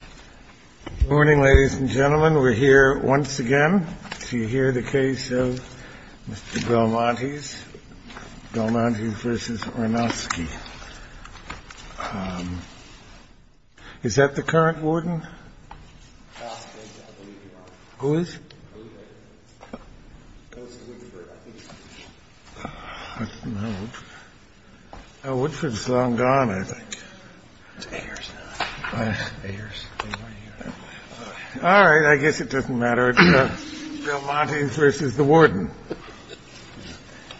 Good morning, ladies and gentlemen. We're here once again to hear the case of Mr. Belmontes, Belmontes v. Ornosky. Is that the current warden? Who is? Woodford's long gone, I think. All right. I guess it doesn't matter. It's Belmontes v. the warden.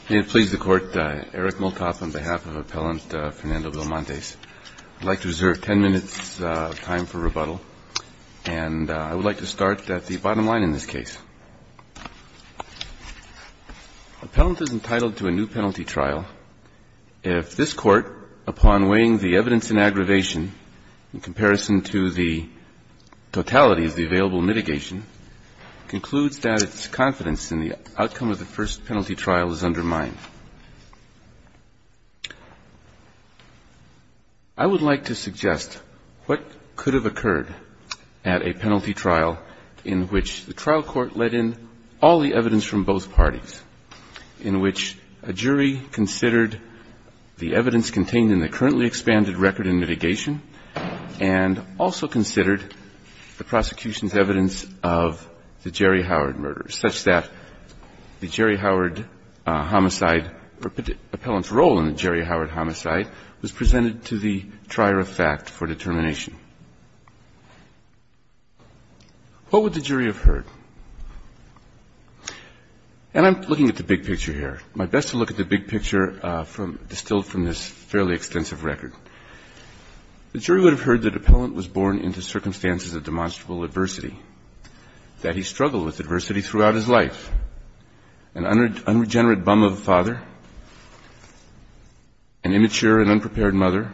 May it please the Court, Eric Multoff on behalf of Appellant Fernando Belmontes. I'd like to reserve 10 minutes of time for rebuttal, and I would like to start at the bottom line in this case. Appellant is entitled to a new penalty trial if this Court, upon weighing the evidence in aggravation in comparison to the totality of the available mitigation, concludes that its confidence in the outcome of the first penalty trial is undermined. I would like to suggest what could have occurred at a penalty trial in which the trial court let in all the evidence from both parties, in which a jury considered the evidence contained in the currently expanded record in mitigation, and also considered the prosecution's evidence of the Jerry Howard murder, such that the Jerry Howard homicide or Appellant's role in the Jerry Howard homicide was presented to the trier of fact for determination. What would the jury have heard? And I'm looking at the big picture here. My best to look at the big picture distilled from this fairly extensive record. The jury would have heard that Appellant was born into circumstances of demonstrable adversity, that he struggled with adversity throughout his life, an unregenerate bum of a father, an immature and unprepared mother,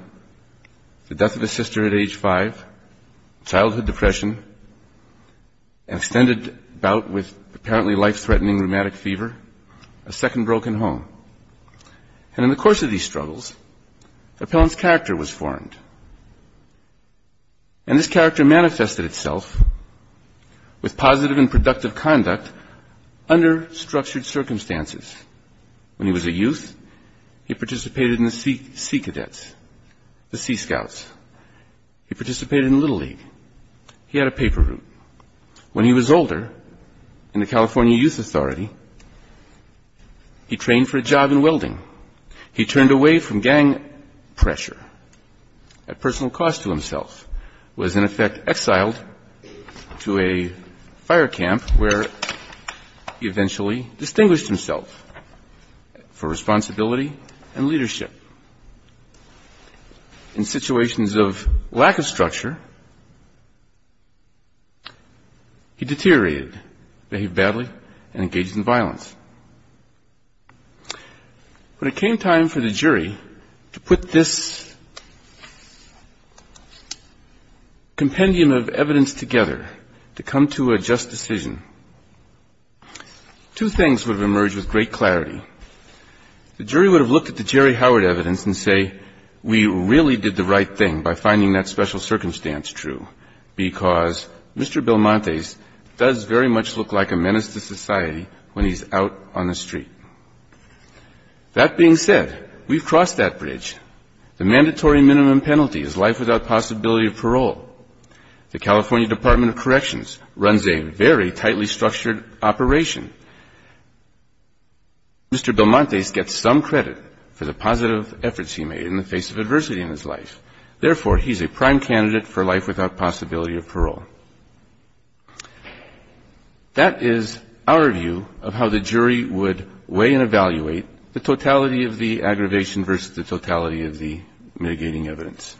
the death of his sister at age 5, childhood depression, an extended bout with apparently life-threatening rheumatic fever, a second broken home. And in the course of these struggles, Appellant's character was formed. And this character manifested itself with positive and productive conduct under structured circumstances. When he was a youth, he participated in the Sea Cadets, the Sea Scouts. He participated in Little League. He had a paper route. When he was older, in the California Youth Authority, he trained for a job in welding. He turned away from gang pressure at personal cost to himself, was in effect exiled to a fire camp where he eventually distinguished himself for responsibility and leadership. In situations of lack of structure, he deteriorated, behaved badly, and engaged in violence. When it came time for the jury to put this compendium of evidence together to come to a just decision, two things would have emerged with great clarity. The jury would have looked at the Jerry Howard evidence and say, we really did the right thing by finding that special circumstance true, because Mr. Belmonte's does very much look like a menace to society when he's out on the street. That being said, we've crossed that bridge. The mandatory minimum penalty is life without possibility of parole. The California Department of Corrections runs a very tightly structured operation. Mr. Belmonte gets some credit for the positive efforts he made in the face of adversity in his life. Therefore, he's a prime candidate for life without possibility of parole. That is our view of how the jury would weigh and evaluate the totality of the aggravation versus the totality of the mitigating evidence.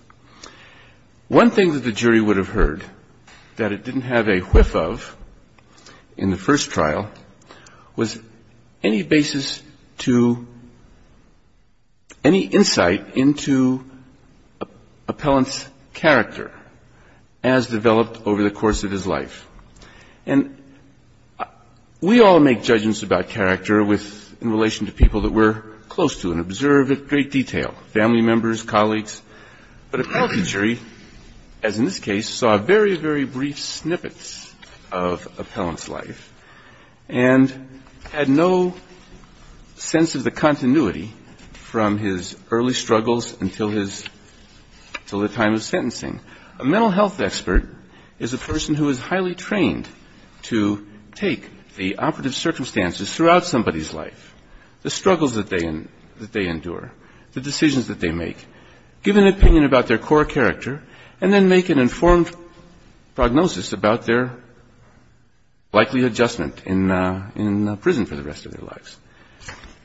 One thing that the jury would have heard that it didn't have a whiff of in the first trial was any basis to any insight into appellant's character as developed over the course of his life. And we all make judgments about character in relation to people that we're close to and observe at great detail, family members, colleagues. But appellate jury, as in this case, saw very, very brief snippets of appellant's life and had no sense of the continuity from his early struggles until the time of sentencing. A mental health expert is a person who is highly trained to take the operative circumstances throughout somebody's life, the struggles that they endure, the decisions that they make, give an opinion about their core character, and then make an informed prognosis about their likely adjustment in prison for the rest of their lives.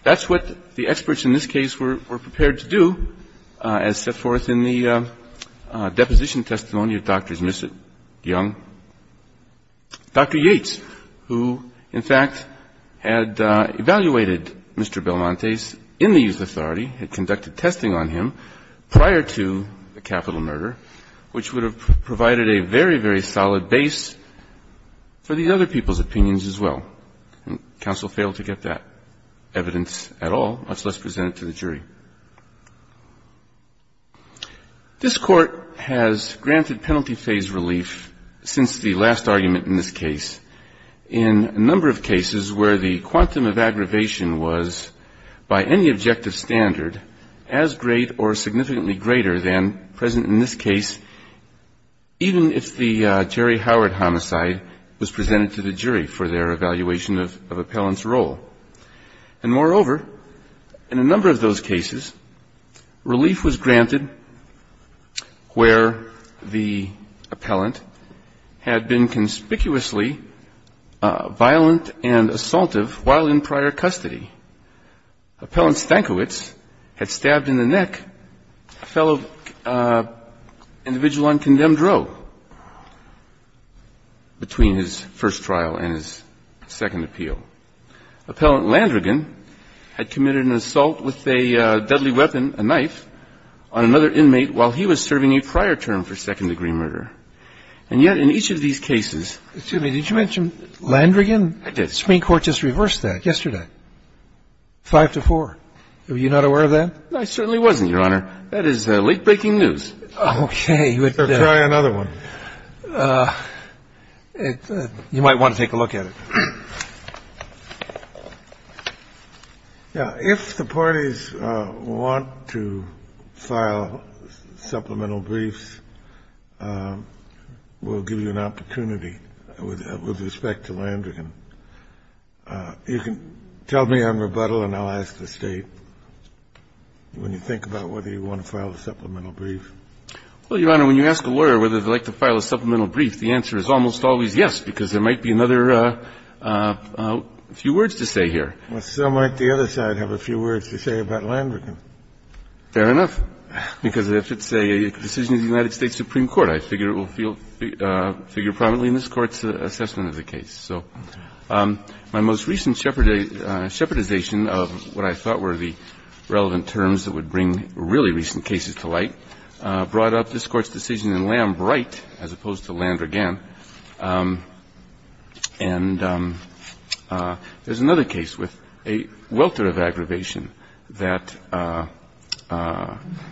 That's what the experts in this case were prepared to do as set forth in the deposition testimony of Drs. Missitt, Young, Dr. Yates, who, in fact, had evaluated Mr. Belmonte's in the youth authority, had conducted testing on him prior to the capital murder, which would have provided a very, very solid base for the other people's opinions as well. Counsel failed to get that evidence at all, much less present it to the jury. This Court has granted penalty phase relief since the last argument in this case in a number of cases where the quantum of aggravation was, by any objective standard, as great or significantly greater than present in this case, even if the Jerry Howard homicide was presented to the jury for their evaluation of appellant's role. And, moreover, in a number of those cases, relief was granted where the appellant had been conspicuously violent and assaultive while in prior custody. Appellant Stankiewicz had stabbed in the neck a fellow individual on condemned row between his first trial and his second appeal. Appellant Landrigan had committed an assault with a deadly weapon, a knife, on another inmate while he was serving a prior term for second-degree murder. And yet, in each of these cases ---- Excuse me. Did you mention Landrigan? I did. The Supreme Court just reversed that yesterday, 5-4. Were you not aware of that? I certainly wasn't, Your Honor. That is late-breaking news. Okay. Try another one. You might want to take a look at it. Now, if the parties want to file supplemental briefs, we'll give you an opportunity with respect to Landrigan. You can tell me on rebuttal, and I'll ask the State when you think about whether you want to file a supplemental brief. Well, Your Honor, when you ask a lawyer whether they'd like to file a supplemental brief, the answer is almost always yes, because there might be another few words to say here. Well, so might the other side have a few words to say about Landrigan. Fair enough, because if it's a decision of the United States Supreme Court, I figure it will feel ---- figure prominently in this Court's assessment of the case. So my most recent shepherdization of what I thought were the relevant terms that would bring really recent cases to light brought up this Court's decision in Lamb Wright as opposed to Landrigan. And there's another case with a welter of aggravation that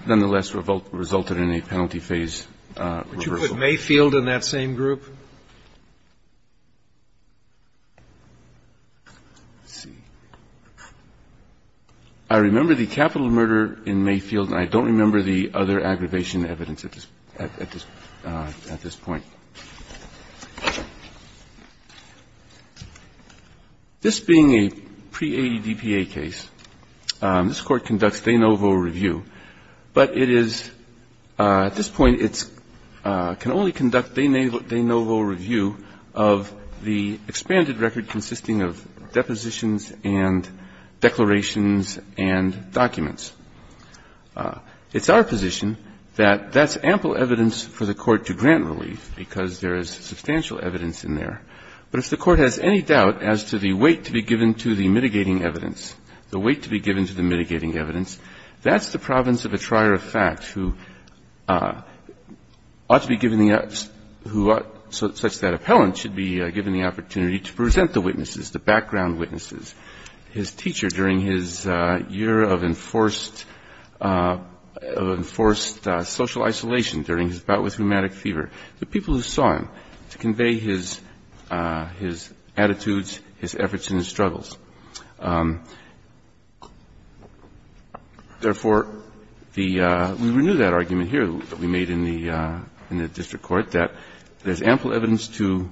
nonetheless resulted in a penalty phase reversal. Would you put Mayfield in that same group? Let's see. I remember the capital murder in Mayfield, and I don't remember the other aggravation evidence at this point. This being a pre-80 DPA case, this Court conducts de novo review, but it is at this point, it can only conduct de novo review of the expanded record consisting of depositions and declarations and documents. It's our position that that's ample evidence for the Court to grant relief because there is substantial evidence in there. But if the Court has any doubt as to the weight to be given to the mitigating evidence, the weight to be given to the mitigating evidence, that's the province of a trier of fact who ought to be given the ---- who ought, such that appellant should be given the opportunity to present the witnesses, the background witnesses. His teacher during his year of enforced social isolation during his bout with rheumatic fever, the people who saw him, to convey his attitudes, his efforts and his struggles. Therefore, the ---- we renew that argument here that we made in the district court that there's ample evidence to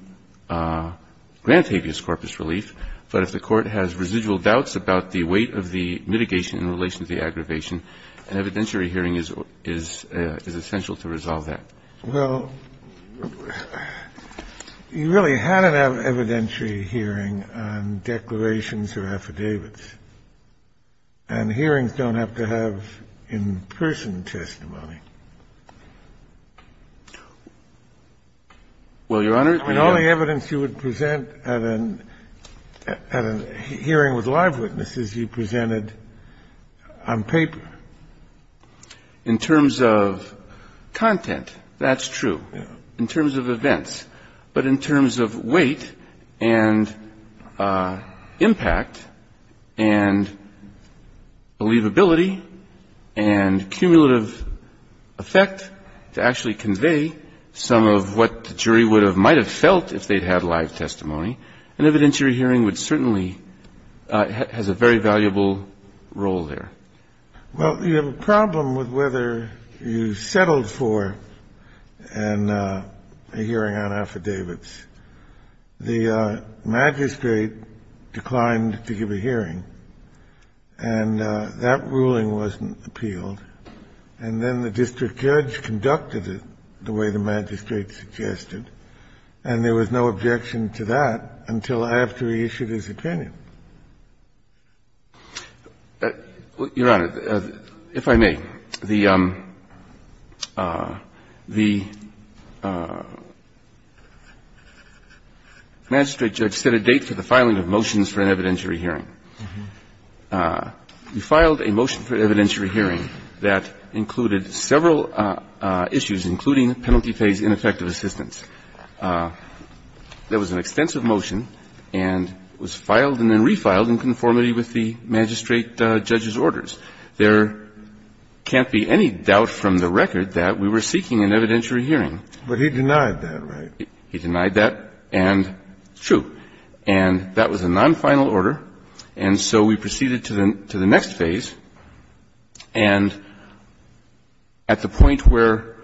grant habeas corpus relief, but if the Court has residual doubts about the weight of the mitigation in relation to the aggravation, an evidentiary hearing is essential to resolve that. Well, you really had an evidentiary hearing on declarations or affidavits, and hearings don't have to have in-person testimony. Well, Your Honor, in all the evidence you would present at an evidentiary hearing with live witnesses you presented on paper. In terms of content, that's true. In terms of events. But in terms of weight and impact and believability and cumulative effect to actually convey some of what the jury would have, might have felt if they'd had live testimony, an evidentiary hearing would certainly has a very valuable role there. Well, you have a problem with whether you settled for a hearing on affidavits. The magistrate declined to give a hearing, and that ruling wasn't appealed. And then the district judge conducted it the way the magistrate suggested, and there was no objection to that until after he issued his opinion. Your Honor, if I may, the magistrate judge set a date for the filing of motions for an evidentiary hearing. He filed a motion for an evidentiary hearing that included several issues, including penalty phase ineffective assistance. There was an extensive motion and it was filed and then refiled in conformity with the magistrate judge's orders. There can't be any doubt from the record that we were seeking an evidentiary hearing. But he denied that, right? He denied that, and it's true. And that was a nonfinal order, and so we proceeded to the next phase. And at the point where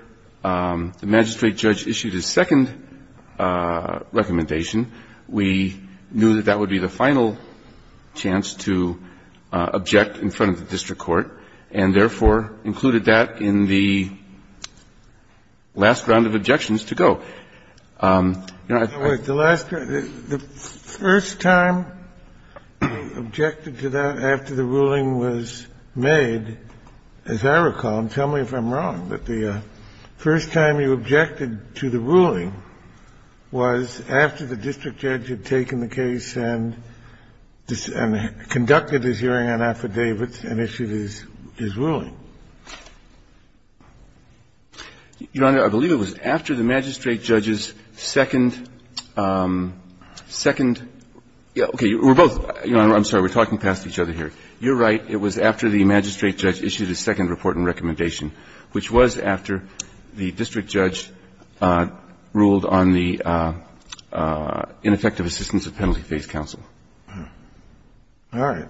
the magistrate judge issued his second recommendation, we knew that that would be the final chance to object in front of the district court, and therefore included that in the last round of objections to go. So, Your Honor, I think the last question, the first time you objected to that after the ruling was made, as I recall, and tell me if I'm wrong, but the first time you objected to the ruling was after the district judge had taken the case and conducted his hearing on affidavits and issued his ruling. Your Honor, I believe it was after the magistrate judge's second, second – okay. We're both – Your Honor, I'm sorry. We're talking past each other here. You're right. It was after the magistrate judge issued his second report and recommendation, which was after the district judge ruled on the ineffective assistance of penalty phase counsel. All right.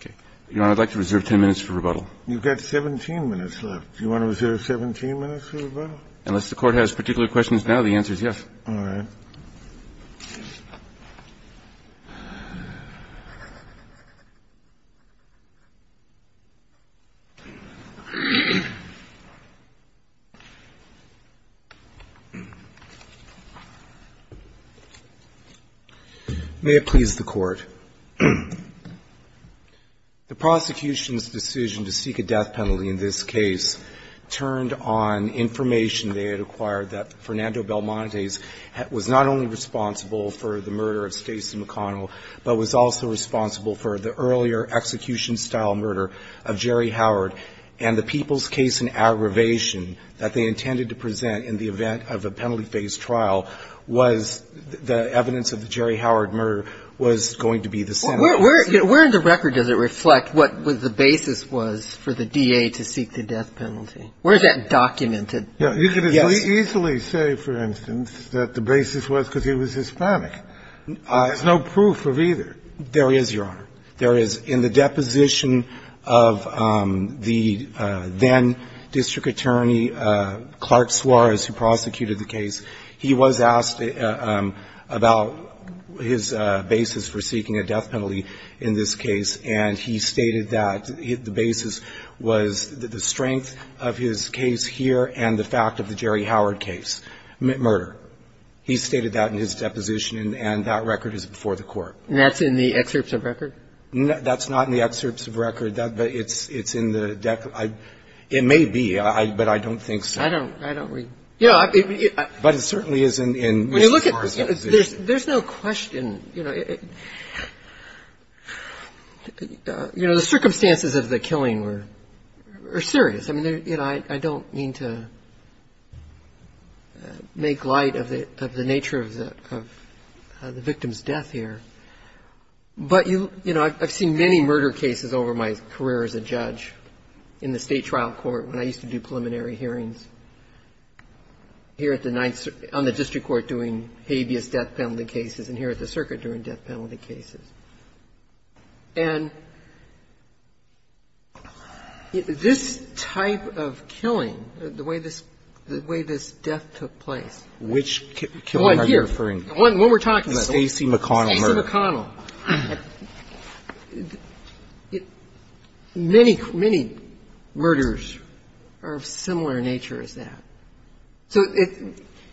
Okay. Your Honor, I'd like to reserve 10 minutes for rebuttal. You've got 17 minutes left. Do you want to reserve 17 minutes for rebuttal? Unless the Court has particular questions now, the answer is yes. All right. May it please the Court. The prosecution's decision to seek a death penalty in this case turned on information they had acquired that Fernando Belmonte was not only responsible for the murder of Stacey McConnell, but was also responsible for the earlier execution-style murder of Jerry Howard, and the people's case in aggravation that they intended to present in the event of a penalty phase trial was the evidence of the Jerry Howard murder was going to be the sentence. Where in the record does it reflect what the basis was for the DA to seek the death penalty? Where is that documented? You could easily say, for instance, that the basis was because he was Hispanic. There's no proof of either. There is, Your Honor. There is, in the deposition of the then-District Attorney Clark Suarez, who prosecuted the case, he was asked about his basis for seeking a death penalty in this case, and he stated that the basis was the strength of his case here and the fact of the Jerry Howard case, murder. He stated that in his deposition, and that record is before the Court. And that's in the excerpts of record? That's not in the excerpts of record, but it's in the deck. It may be, but I don't think so. I don't read. But it certainly is in Mr. Suarez's deposition. There's no question. You know, the circumstances of the killing were serious. I mean, you know, I don't mean to make light of the nature of the victim's death here. But, you know, I've seen many murder cases over my career as a judge in the State Trial Court when I used to do preliminary hearings, here on the district court doing habeas death penalty cases and here at the circuit doing death penalty cases. And this type of killing, the way this death took place. Which killer are you referring to? One here. The one we're talking about. Stacey McConnell murder. Stacey McConnell. Many, many murders are of similar nature as that.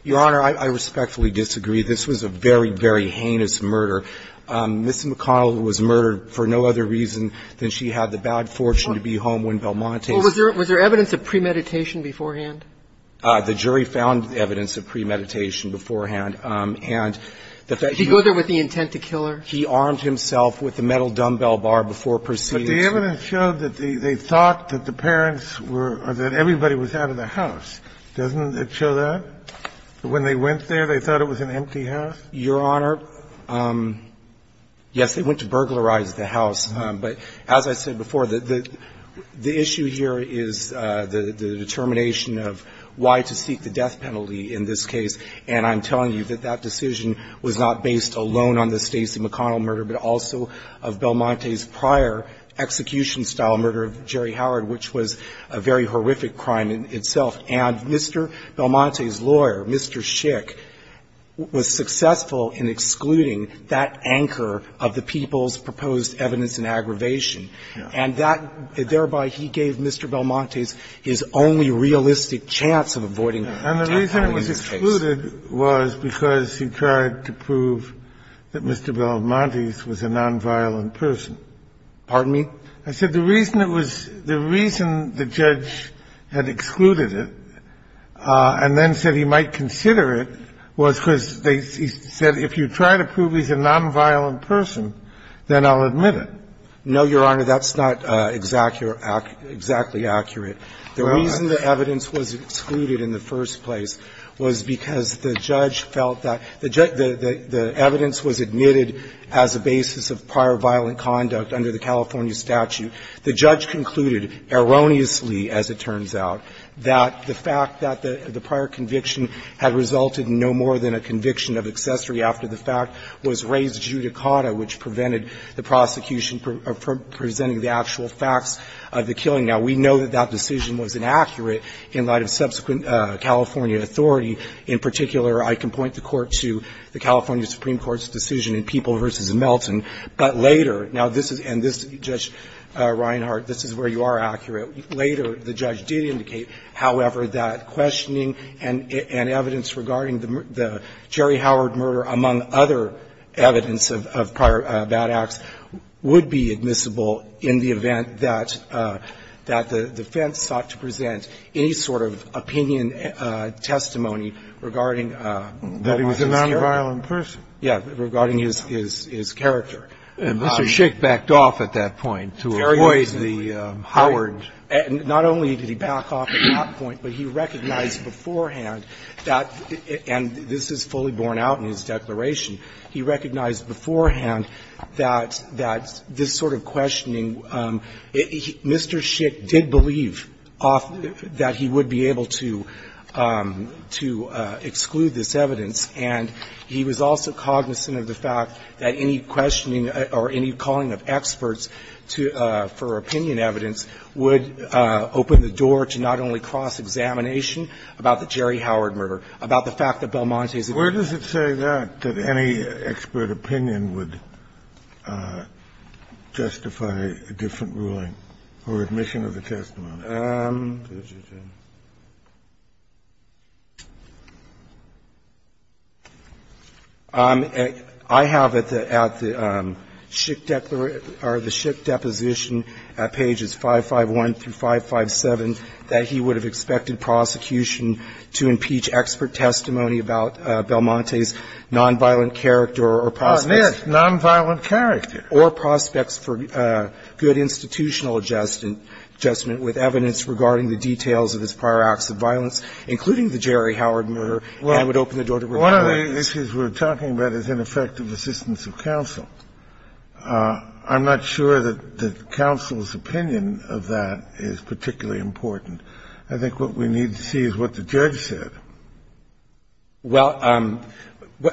Your Honor, I respectfully disagree. This was a very, very heinous murder. Ms. McConnell was murdered for no other reason than she had the bad fortune to be home when Belmonte's. Well, was there evidence of premeditation beforehand? The jury found evidence of premeditation beforehand. Did he go there with the intent to kill her? He armed himself with the metal dumbbell bar before proceeding. But the evidence showed that they thought that the parents were or that everybody was out of the house. Doesn't it show that? When they went there, they thought it was an empty house? Your Honor, yes, they went to burglarize the house. But as I said before, the issue here is the determination of why to seek the death penalty in this case. And I'm telling you that that decision was not based alone on the Stacey McConnell murder, but also of Belmonte's prior execution-style murder of Jerry Howard, which was a very horrific crime in itself. And Mr. Belmonte's lawyer, Mr. Schick, was successful in excluding that anchor of the people's proposed evidence in aggravation. And that thereby he gave Mr. Belmonte's his only realistic chance of avoiding death. So the reason it was excluded was because he tried to prove that Mr. Belmonte's was a nonviolent person. Pardon me? I said the reason it was the reason the judge had excluded it and then said he might consider it was because they said if you try to prove he's a nonviolent person, then I'll admit it. No, Your Honor, that's not exactly accurate. The reason the evidence was excluded in the first place was because the judge felt that the evidence was admitted as a basis of prior violent conduct under the California statute. The judge concluded erroneously, as it turns out, that the fact that the prior conviction had resulted in no more than a conviction of accessory after the fact was raised judicata, which prevented the prosecution from presenting the actual facts of the decision was inaccurate in light of subsequent California authority. In particular, I can point the Court to the California Supreme Court's decision in People v. Melton. But later, now this is, and this, Judge Reinhart, this is where you are accurate. Later, the judge did indicate, however, that questioning and evidence regarding the Jerry Howard murder, among other evidence of prior bad acts, would be admissible in the event that the defense sought to present any sort of opinion, testimony regarding his character. That he was a nonviolent person. Yeah, regarding his character. And Mr. Schick backed off at that point to avoid the Howard. Not only did he back off at that point, but he recognized beforehand that, and this is fully borne out in his declaration, he recognized beforehand that this sort of questioning Mr. Schick did believe that he would be able to exclude this evidence, and he was also cognizant of the fact that any questioning or any calling of experts for opinion evidence would open the door to not only cross-examination about the Jerry Howard murder, about the fact that Belmonte's. Kennedy, where does it say that, that any expert opinion would justify a different ruling or admission of a testimony? I have at the Schick declaration, or the Schick deposition at pages 551 through 557 that he would have expected prosecution to impeach expert testimony about Belmonte 's nonviolent character or prospects for good institutional adjustment with evidence regarding the details of his prior acts of violence, including the Jerry Howard murder. Well, one of the issues we're talking about is ineffective assistance of counsel. I'm not sure that the counsel's opinion of that is particularly important. I think what we need to see is what the judge said. Well,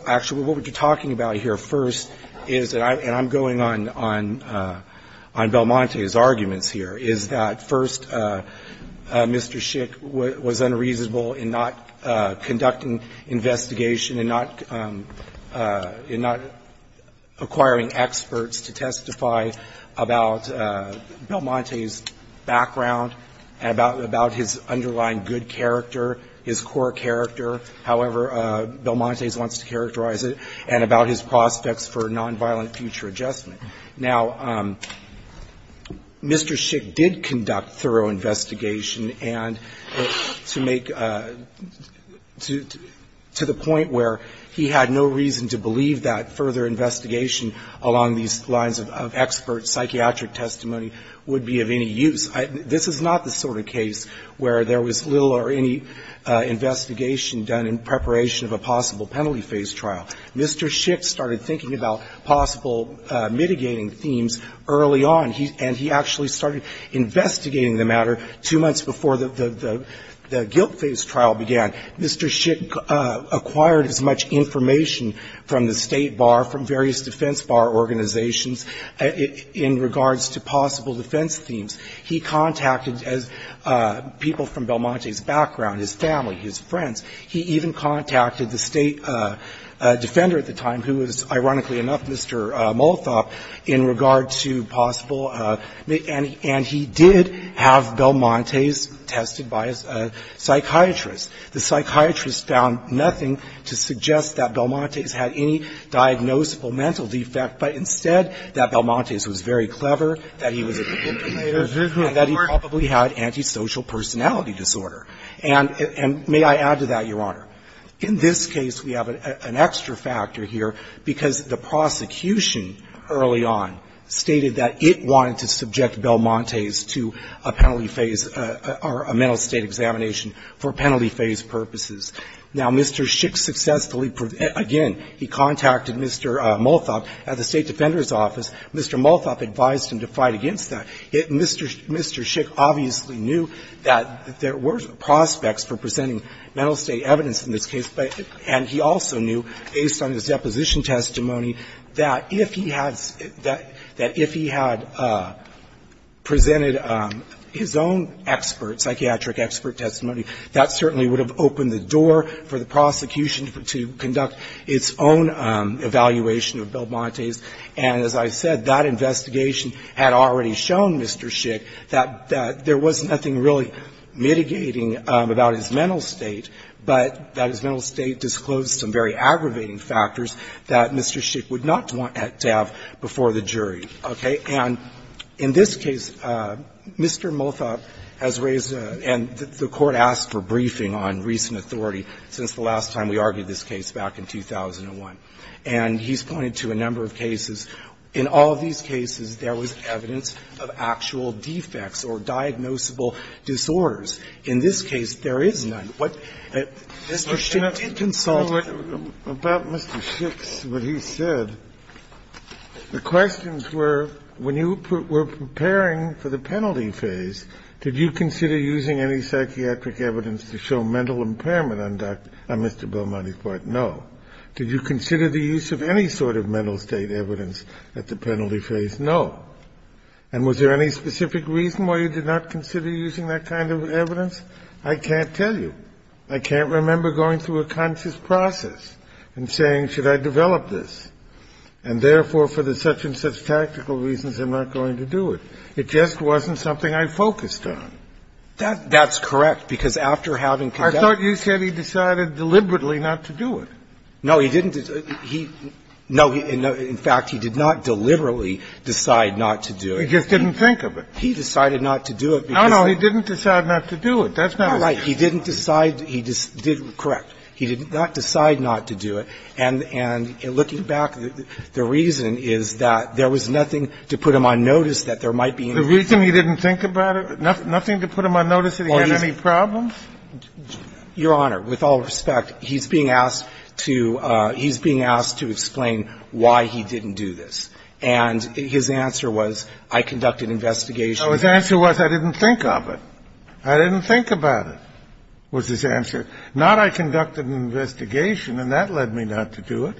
actually, what we're talking about here first is, and I'm going on Belmonte's arguments here, is that first, Mr. Schick was unreasonable in not conducting investigation and not acquiring experts to testify about Belmonte's background, about his underlying good character, his core character, however Belmonte wants to characterize it, and about his prospects for nonviolent future adjustment. Now, Mr. Schick did conduct thorough investigation and to make to the point where he had no reason to believe that further investigation along these lines of expert psychiatric testimony would be of any use. This is not the sort of case where there was little or any investigation done in preparation of a possible penalty phase trial. Mr. Schick started thinking about possible mitigating themes early on, and he actually started investigating the matter two months before the guilt phase trial began. Mr. Schick acquired as much information from the State Bar, from various defense bar organizations in regards to possible defense themes. He contacted people from Belmonte's background, his family, his friends. He even contacted the State defender at the time, who was, ironically enough, Mr. Molthoff, in regard to possible, and he did have Belmonte's tested by a psychiatrist. The psychiatrist found nothing to suggest that Belmonte's had any diagnosable mental defect, but instead that Belmonte's was very clever, that he was a good communicator, and that he probably had antisocial personality disorder. And may I add to that, Your Honor, in this case we have an extra factor here because the prosecution early on stated that it wanted to subject Belmonte's to a penalty phase or a mental state examination for penalty phase purposes. Now, Mr. Schick successfully, again, he contacted Mr. Molthoff at the State Defender's office. Mr. Molthoff advised him to fight against that. Mr. Schick obviously knew that there were prospects for presenting mental state evidence in this case, and he also knew, based on his deposition testimony, that if he had presented his own psychiatric expert testimony, that certainly would have opened the door for the prosecution to conduct its own evaluation of Belmonte's. And as I said, that investigation had already shown Mr. Schick that there was nothing really mitigating about his mental state, but that his mental state disclosed some very aggravating factors that Mr. Schick would not want to have before the jury. Okay? And in this case, Mr. Molthoff has raised, and the Court asked for briefing on recent authority since the last time we argued this case back in 2001. And he's pointed to a number of cases. In all of these cases, there was evidence of actual defects or diagnosable disorders. In this case, there is none. What Mr. Schick did consult. Kennedy. Kennedy. About Mr. Schick's, what he said, the questions were, when you were preparing for the penalty phase, did you consider using any psychiatric evidence to show mental impairment on Mr. Belmonte's part? No. Did you consider the use of any sort of mental state evidence at the penalty phase? No. And was there any specific reason why you did not consider using that kind of evidence? I can't tell you. I can't remember going through a conscious process and saying, should I develop this, and therefore, for the such and such tactical reasons, I'm not going to do it. It just wasn't something I focused on. That's correct, because after having conducted the case, I thought you said he decided deliberately not to do it. No, he didn't. He no, in fact, he did not deliberately decide not to do it. He just didn't think of it. He decided not to do it. No, no, he didn't decide not to do it. That's not right. He didn't decide he didn't correct. He did not decide not to do it. And looking back, the reason is that there was nothing to put him on notice that there might be anything. The reason he didn't think about it, nothing to put him on notice that he had any problems? Your Honor, with all respect, he's being asked to explain why he didn't do this. And his answer was, I conducted an investigation. No, his answer was, I didn't think of it. I didn't think about it, was his answer. Not, I conducted an investigation, and that led me not to do it.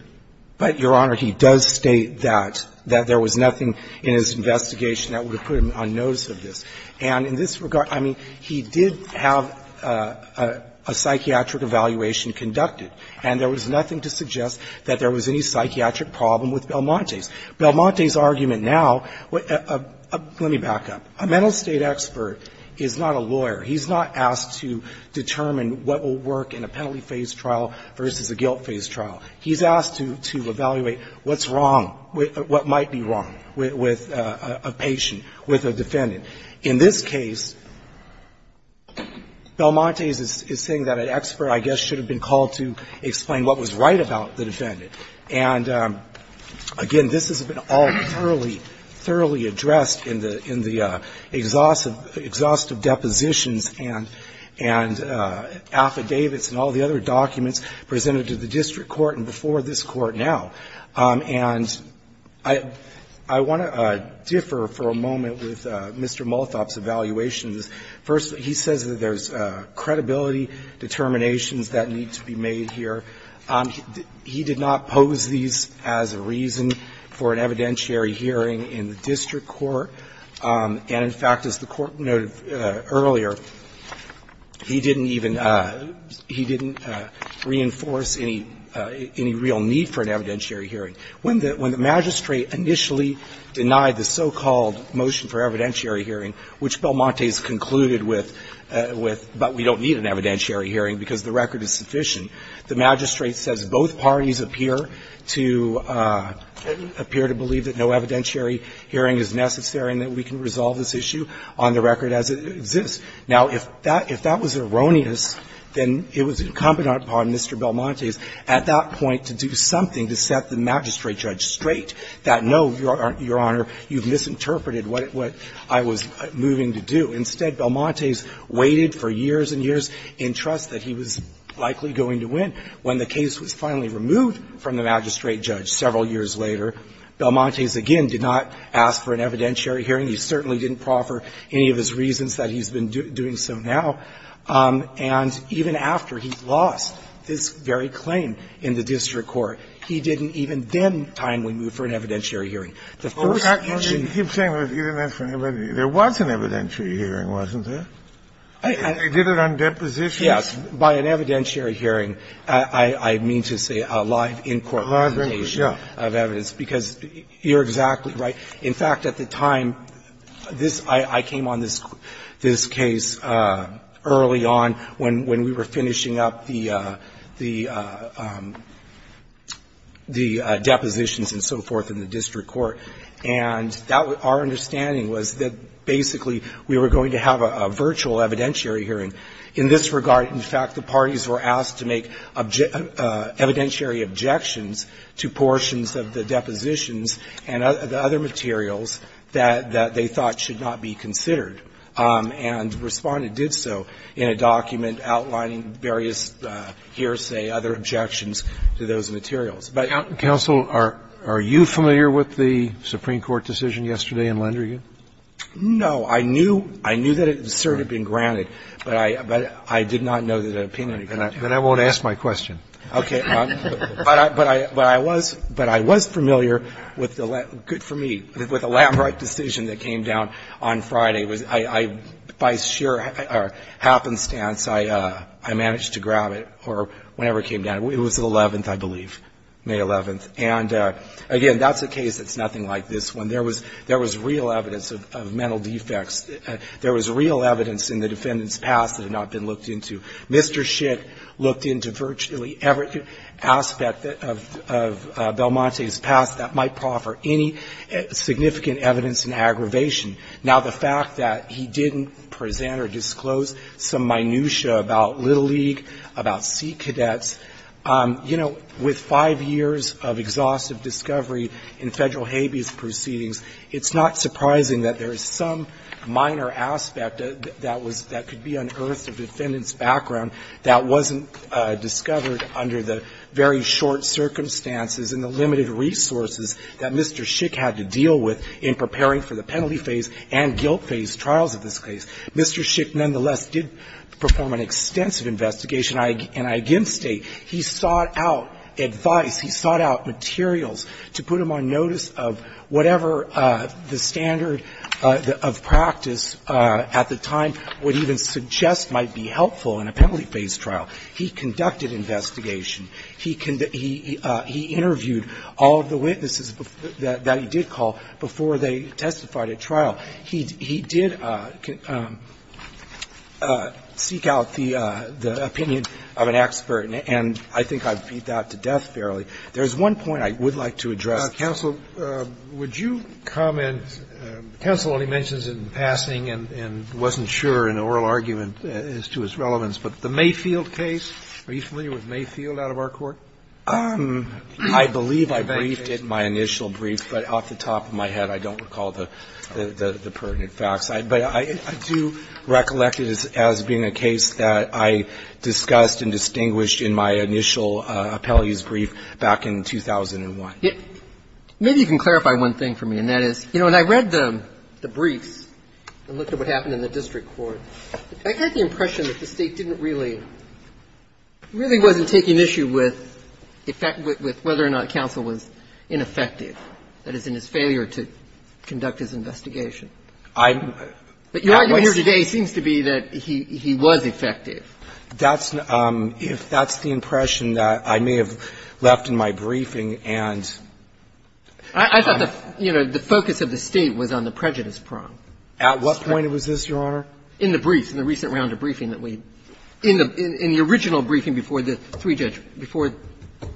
But, Your Honor, he does state that, that there was nothing in his investigation that would have put him on notice of this. And in this regard, I mean, he did have a psychiatric evaluation conducted, and there was nothing to suggest that there was any psychiatric problem with Belmonte's. Belmonte's argument now, let me back up. A mental state expert is not a lawyer. He's not asked to determine what will work in a penalty phase trial versus a guilt phase trial. He's asked to evaluate what's wrong, what might be wrong with a patient, with a defendant. In this case, Belmonte's is saying that an expert, I guess, should have been called to explain what was right about the defendant. And, again, this has been all thoroughly, thoroughly addressed in the exhaustive depositions and affidavits and all the other documents presented to the district court and before this Court now. And I want to differ for a moment with Mr. Malthoff's evaluations. First, he says that there's credibility determinations that need to be made here. He did not pose these as a reason for an evidentiary hearing in the district court. And, in fact, as the Court noted earlier, he didn't even – he didn't reinforce any real need for an evidentiary hearing. When the magistrate initially denied the so-called motion for evidentiary hearing, which Belmonte's concluded with, but we don't need an evidentiary hearing because the record is sufficient, the magistrate says both parties appear to believe that no evidentiary hearing is necessary and that we can resolve this issue on the record as it exists. Now, if that was erroneous, then it was incumbent upon Mr. Belmonte's at that point to do something to set the magistrate judge straight, that, no, Your Honor, you've misinterpreted what I was moving to do. Instead, Belmonte's waited for years and years in trust that he was likely going to win. When the case was finally removed from the magistrate judge several years later, Belmonte's, again, did not ask for an evidentiary hearing. He certainly didn't proffer any of his reasons that he's been doing so now. And even after he lost this very claim in the district court, he didn't even then timely move for an evidentiary hearing. The first issue he did not move for an evidentiary hearing. Kennedy, there was an evidentiary hearing, wasn't there? They did it on depositions. Yes. By an evidentiary hearing, I mean to say a live in-court presentation of evidence. Because you're exactly right. In fact, at the time, this – I came on this case early on when we were finishing up the – the depositions and so forth in the district court. And that was – our understanding was that basically we were going to have a virtual evidentiary hearing. In this regard, in fact, the parties were asked to make evidentiary objections to portions of the depositions and the other materials that they thought should not be considered. And Respondent did so in a document outlining various hearsay, other objections to those materials. But you know – Counsel, are you familiar with the Supreme Court decision yesterday in Landrigan? No. I knew – I knew that it had sort of been granted, but I did not know that an opinion had been granted. Then I won't ask my question. Okay. But I was – but I was familiar with the – good for me – with the Landrigan decision that came down on Friday. I – by sheer happenstance, I managed to grab it or whenever it came down. It was the 11th, I believe, May 11th. And again, that's a case that's nothing like this one. There was – there was real evidence of mental defects. There was real evidence in the defendant's past that had not been looked into. Mr. Schick looked into virtually every aspect of Belmonte's past that might proffer any significant evidence in aggravation. Now, the fact that he didn't present or disclose some minutia about Little League, about sea cadets, you know, with five years of exhaustive discovery in Federal habeas proceedings, it's not surprising that there is some minor aspect that was – that was not in the defendant's background that wasn't discovered under the very short circumstances and the limited resources that Mr. Schick had to deal with in preparing for the penalty phase and guilt phase trials of this case. Mr. Schick, nonetheless, did perform an extensive investigation, and I again state he sought out advice, he sought out materials to put him on notice of whatever the standard of practice at the time would even suggest might be helpful in a penalty phase trial. He conducted investigation. He interviewed all of the witnesses that he did call before they testified at trial. He did seek out the opinion of an expert, and I think I've beat that to death fairly. There's one point I would like to address. Counsel, would you comment – counsel only mentions it in passing and wasn't sure in an oral argument as to its relevance, but the Mayfield case, are you familiar with Mayfield out of our court? I believe I briefed it in my initial brief, but off the top of my head I don't recall the pertinent facts. But I do recollect it as being a case that I discussed and distinguished in my initial appellee's brief back in 2001. Maybe you can clarify one thing for me, and that is, you know, when I read the briefs and looked at what happened in the district court, I got the impression that the State didn't really – really wasn't taking issue with whether or not counsel was ineffective, that is, in his failure to conduct his investigation. But your argument here today seems to be that he was effective. That's – if that's the impression that I may have left in my briefing and – I thought the – you know, the focus of the State was on the prejudice prong. At what point was this, Your Honor? In the brief, in the recent round of briefing that we – in the original briefing before the three judges – before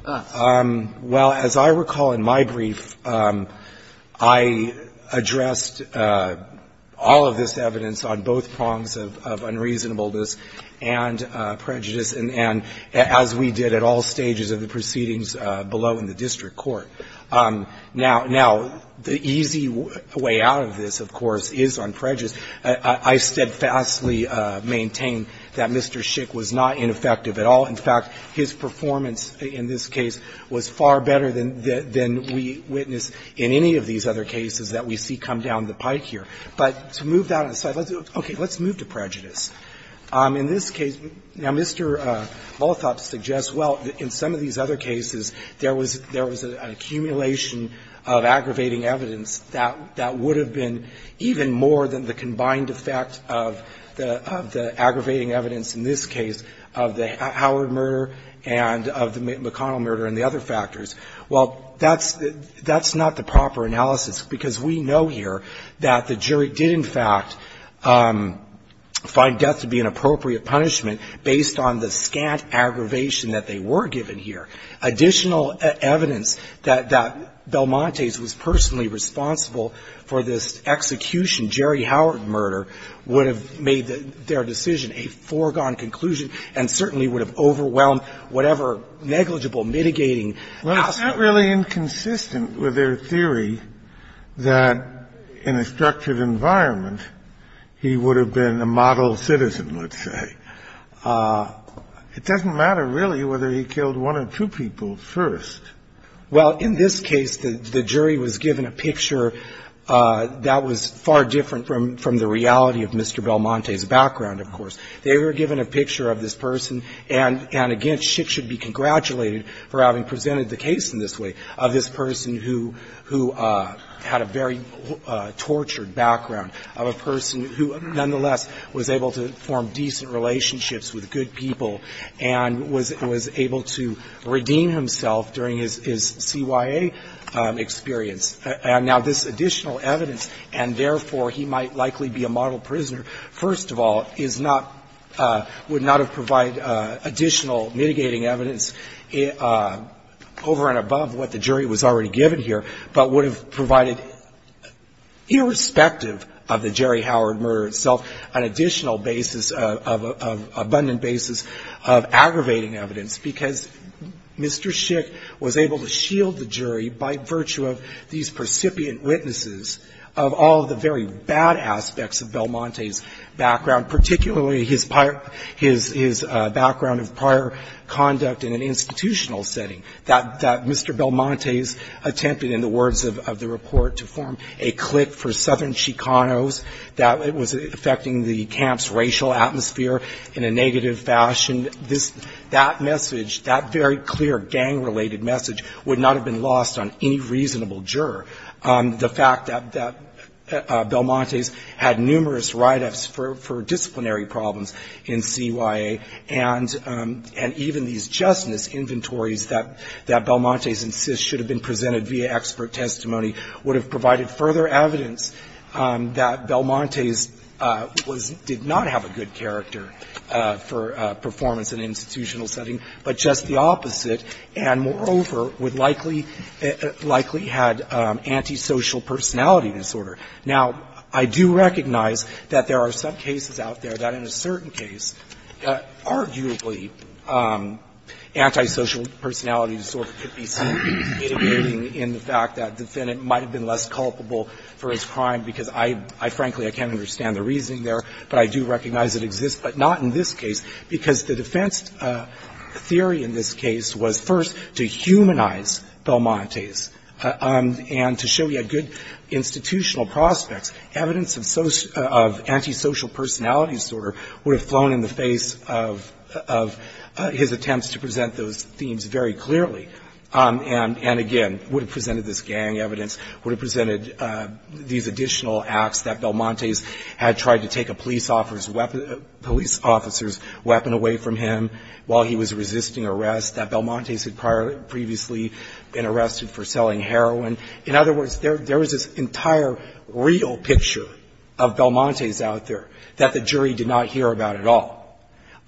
us. Well, as I recall in my brief, I addressed all of this evidence on both prongs of unreasonableness and prejudice, and as we did at all stages of the proceedings below in the district court. Now, the easy way out of this, of course, is on prejudice. I steadfastly maintain that Mr. Schick was not ineffective at all. In fact, his performance in this case was far better than we witnessed in any of these other cases that we see come down the pike here. But to move that aside, let's – okay, let's move to prejudice. In this case – now, Mr. Volothop suggests, well, in some of these other cases, there was – there was an accumulation of aggravating evidence that would have been even more than the combined effect of the aggravating evidence in this case of the Howard murder and of the McConnell murder and the other factors. Well, that's – that's not the proper analysis, because we know here that the jury did, in fact, find death to be an appropriate punishment based on the scant aggravation that they were given here. Additional evidence that – that Belmontes was personally responsible for this execution, Jerry Howard murder, would have made their decision a foregone conclusion and certainly would have overwhelmed whatever negligible mitigating aspect. Well, it's not really inconsistent with their theory that in a structured environment, he would have been a model citizen, let's say. It doesn't matter, really, whether he killed one or two people first. Well, in this case, the jury was given a picture that was far different from the reality They were given a picture of this person, and again, Schick should be congratulated for having presented the case in this way, of this person who had a very tortured background, of a person who, nonetheless, was able to form decent relationships with good people and was able to redeem himself during his CYA experience. Now, this additional evidence, and therefore he might likely be a model prisoner, first of all, is not – would not have provided additional mitigating evidence over and above what the jury was already given here, but would have provided, irrespective of the Jerry Howard murder itself, an additional basis of – of abundant basis of aggravating evidence, because Mr. Schick was able to shield the jury by virtue of these percipient witnesses of all of the very bad aspects of Belmontes' background, particularly his prior – his background of prior conduct in an institutional setting, that Mr. Belmontes attempted, in the words of the report, to form a clique for Southern Chicanos, that it was affecting the camp's racial atmosphere in a negative fashion. This – that message, that very clear gang-related message would not have been lost on any reasonable juror. The fact that – that Belmontes had numerous write-ups for – for disciplinary problems in CYA, and – and even these justness inventories that – that Belmontes insists should have been presented via expert testimony would have provided further evidence that Belmontes was – did not have a good character for performance in an institutional setting, but just the opposite, and, moreover, would likely – likely had antisocial personality disorder. Now, I do recognize that there are some cases out there that, in a certain case, arguably antisocial personality disorder could be something mitigating in the fact that the defendant might have been less culpable for his crime, because I – I frankly, I can't understand the reasoning there, but I do recognize it exists, but not in this case, Belmontes. And to show you a good institutional prospect, evidence of – of antisocial personality disorder would have flown in the face of – of his attempts to present those themes very clearly, and – and, again, would have presented this gang evidence, would have presented these additional acts that Belmontes had tried to take a police officer's weapon – police officer's weapon away from him while he was resisting arrest, that Belmontes had prior – previously been arrested for selling heroin. In other words, there – there is this entire real picture of Belmontes out there that the jury did not hear about at all.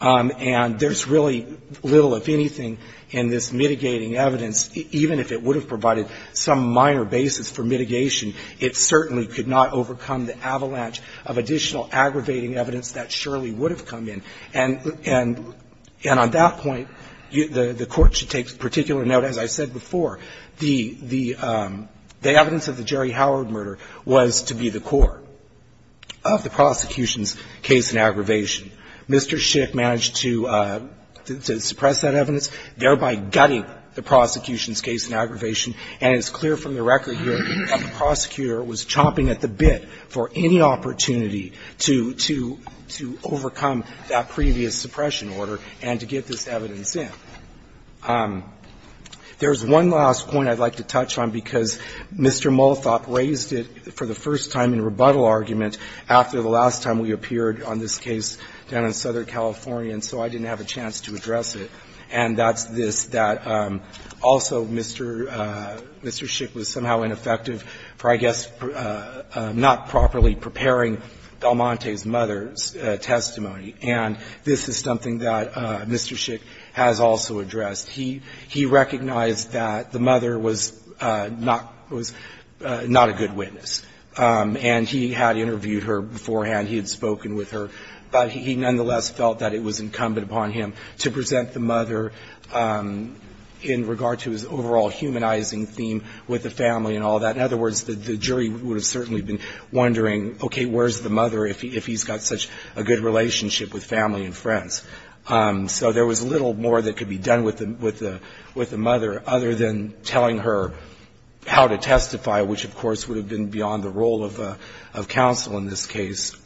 And there's really little, if anything, in this mitigating evidence, even if it would have provided some minor basis for mitigation, it certainly could not overcome the avalanche of additional aggravating evidence that surely would have come in. And – and on that point, the Court should take particular note, as I said before, the – the evidence of the Jerry Howard murder was to be the core of the prosecution's case in aggravation. Mr. Schick managed to – to suppress that evidence, thereby gutting the prosecution's case in aggravation. And it's clear from the record here that the prosecutor was chomping at the bit for any opportunity to – to – to overcome that previous suppression order and to get this evidence in. There's one last point I'd like to touch on, because Mr. Malthoff raised it for the first time in rebuttal argument after the last time we appeared on this case down in Southern California, and so I didn't have a chance to address it. And that's this, that also Mr. – Mr. Schick was somehow ineffective for, I guess, not properly preparing Del Monte's mother's testimony. And this is something that Mr. Schick has also addressed. He – he recognized that the mother was not – was not a good witness, and he had interviewed her beforehand, he had spoken with her, but he nonetheless felt that it was incumbent upon him to present the mother in regard to his overall humanizing theme with the family and all that. In other words, the jury would have certainly been wondering, okay, where's the mother if he's got such a good relationship with family and friends? So there was little more that could be done with the – with the mother other than telling her how to testify, which, of course, would have been beyond the role of counsel in this case.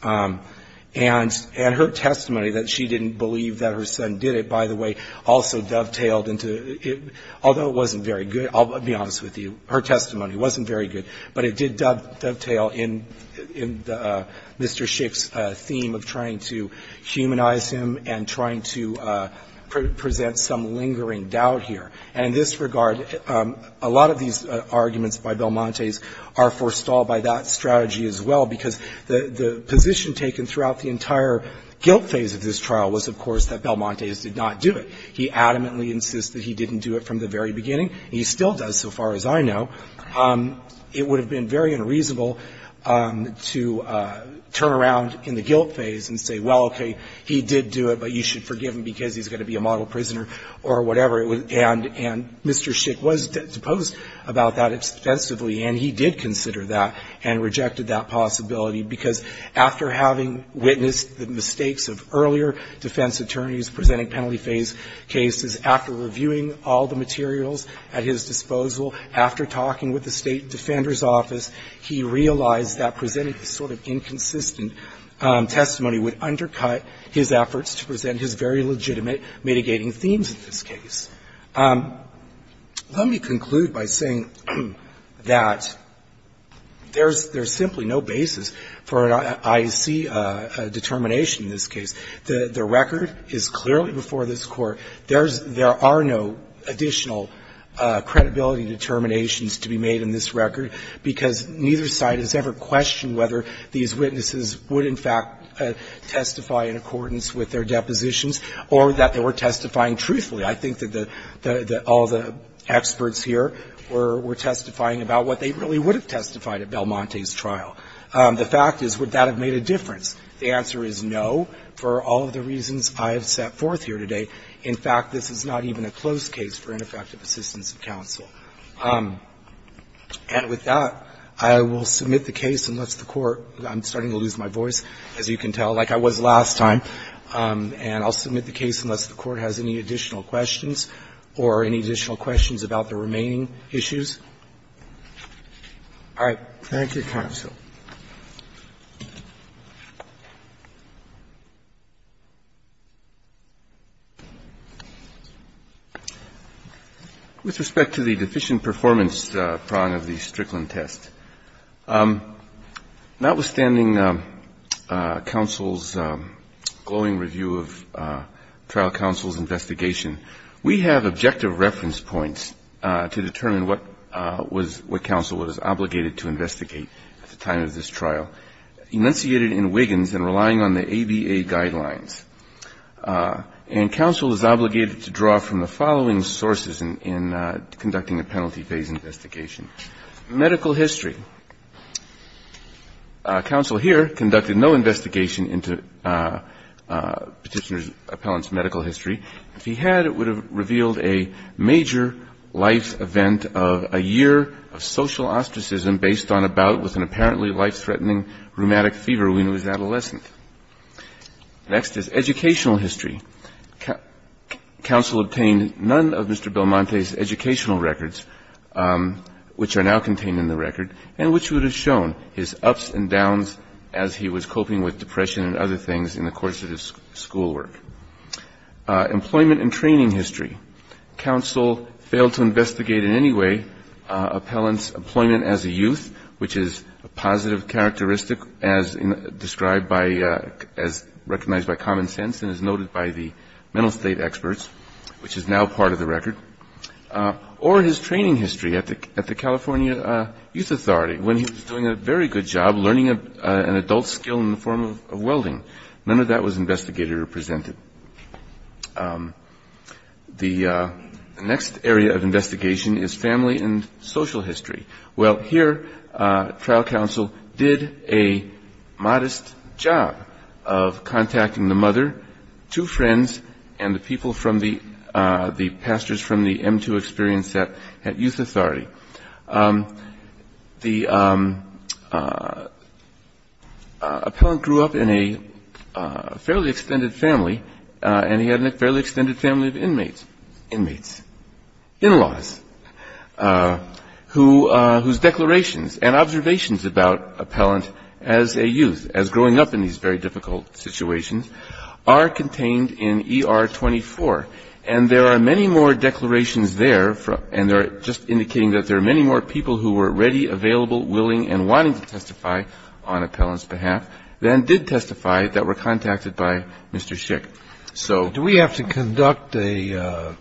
And her testimony that she didn't believe that her son did it, by the way, also dovetailed into – although it wasn't very good, I'll be honest with you, her testimony wasn't very good, but it did dovetail in – in Mr. Schick's theme of trying to humanize him and trying to present some lingering doubt here. And in this regard, a lot of these arguments by Belmonte's are forestalled by that strategy as well, because the – the position taken throughout the entire guilt phase of this trial was, of course, that Belmonte's did not do it. He adamantly insists that he didn't do it from the very beginning. He still does, so far as I know. It would have been very unreasonable to turn around in the guilt phase and say, well, okay, he did do it, but you should forgive him because he's going to be a model prisoner or whatever, and Mr. Schick was disposed about that extensively, and he did consider that and rejected that possibility, because after having witnessed the mistakes of earlier defense attorneys presenting penalty phase cases, after reviewing all the materials at his disposal, after talking with the State Defender's Office, he realized that presenting this sort of inconsistent testimony would undercut his efforts to present his very legitimate mitigating themes in this case. Let me conclude by saying that there's – there's simply no basis for an IEC determination in this case. The record is clearly before this Court. There's – there are no additional credibility determinations to be made in this record, because neither side has ever questioned whether these witnesses would, in fact, testify in accordance with their depositions or that they were testifying truthfully. I think that the – that all the experts here were – were testifying about what they really would have testified at Belmonte's trial. The fact is, would that have made a difference? The answer is no, for all of the reasons I have set forth here today. In fact, this is not even a closed case for ineffective assistance of counsel. And with that, I will submit the case, unless the Court – I'm starting to lose my voice, as you can tell, like I was last time. And I'll submit the case unless the Court has any additional questions or any additional questions about the remaining issues. All right. Thank you, counsel. With respect to the deficient performance prong of the Strickland test, notwithstanding counsel's glowing review of trial counsel's investigation, we have objective reference points to determine what was – what counsel was obligated to investigate at the time of this trial. Enunciated in Wiggins and relying on the ABA guidelines. And counsel is obligated to draw from the following sources in conducting a penalty phase investigation. Medical history. Counsel here conducted no investigation into Petitioner's appellant's medical history. If he had, it would have revealed a major life event of a year of social ostracism based on a bout with an apparently life-threatening rheumatic fever when he was an adolescent. Next is educational history. Counsel obtained none of Mr. Belmonte's educational records, which are now contained in the record, and which would have shown his ups and downs as he was coping with depression and other things in the course of his schoolwork. Employment and training history. Counsel failed to investigate in any way appellant's employment as a youth, which is a positive characteristic as described by – as recognized by common sense and as noted by the mental state experts, which is now part of the record. Or his training history at the California Youth Authority when he was doing a very good job learning an adult skill in the form of welding. None of that was investigated or presented. The next area of investigation is family and social history. Well, here, trial counsel did a modest job of contacting the mother, two friends, and the people from the – the pastors from the M2 experience at Youth Authority. The appellant grew up in a fairly extended family, and he had a fairly extended family of inmates – inmates, in-laws – whose declarations and observations about appellant as a youth, as growing up in these very difficult situations, are contained in ER 24. And there are many more declarations there, and they're just indicating that there are many more people who were ready, available, willing, and wanting to testify on appellant's behalf than did testify that were contacted by Mr. Schick. So – Do we have to conduct a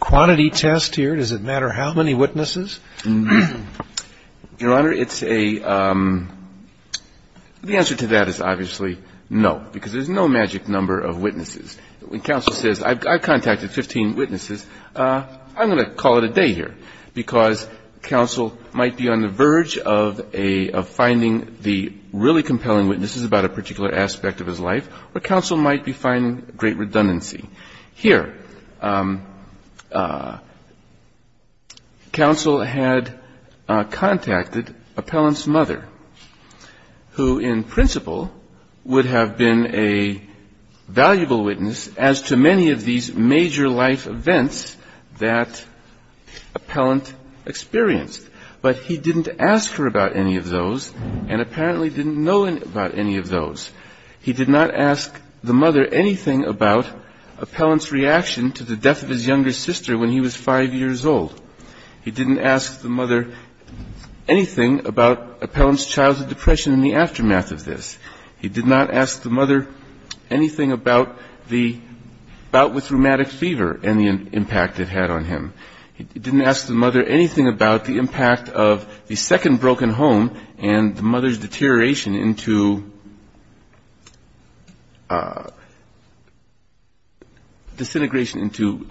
quantity test here? Does it matter how many witnesses? Your Honor, it's a – the answer to that is obviously no, because there's no magic number of witnesses. When counsel says, I've contacted 15 witnesses, I'm going to call it a day here, because counsel might be on the verge of a – of finding the really compelling witnesses about a particular aspect of his life, or counsel might be finding great redundancy. Here, counsel had contacted appellant's mother, who in principle would have been a valuable witness as to many of these major life events that appellant experienced. But he didn't ask her about any of those, and apparently didn't know about any of those. He did not ask the mother anything about appellant's reaction to the death of his younger sister when he was five years old. He didn't ask the mother anything about appellant's childhood depression in the aftermath of this. He did not ask the mother anything about the – about what's rheumatic fever and the impact it had on him. He didn't ask the mother anything about the impact of the second broken home and the mother's deterioration into – disintegration into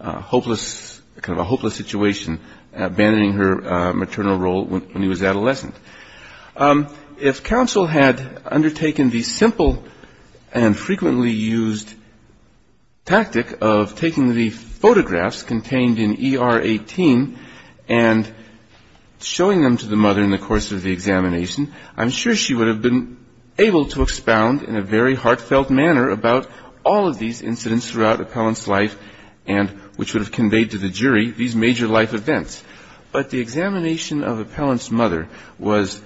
hopeless – kind of a hopeless situation, abandoning her maternal role when he was adolescent. If counsel had undertaken the simple and frequently used tactic of taking the photographs contained in ER 18 and showing them to the mother in the course of the examination, I'm sure she would have been able to expound in a very heartfelt manner about all of these incidents throughout appellant's life and which would have conveyed to the jury these major life events. But the examination of appellant's mother was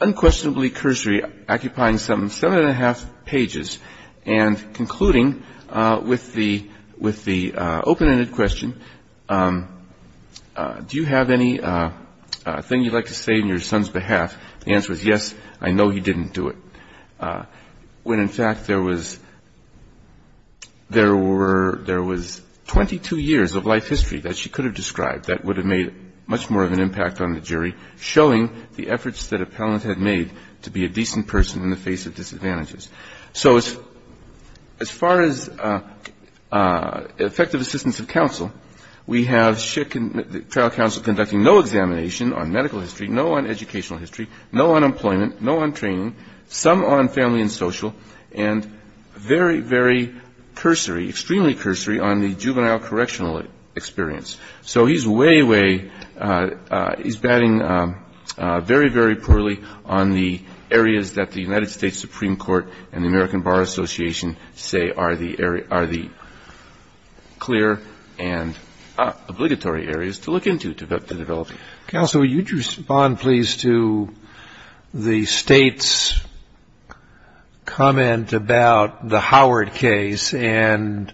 unquestionably cursory, occupying some seven and a half pages, and concluding with the – with the open-ended question, do you have anything you'd like to say on your son's behalf, the answer was yes, I know he didn't do it. When in fact there was – there were – there was 22 years of life history that she could have described that would have made much more of an impact on the jury, showing the efforts that appellant had made to be a decent person in the face of disadvantages. So as far as effective assistance of counsel, we have trial counsel conducting no examination on medical history, no on educational history, no on employment, no on training, some on family and social, and very, very cursory, extremely cursory on the juvenile correctional experience. So he's way, way – he's batting very, very poorly on the areas that the United States Supreme Court and the American Bar Association say are the area – are the clear and obligatory areas to look into, to develop. Counsel, would you respond please to the State's comment about the Howard case and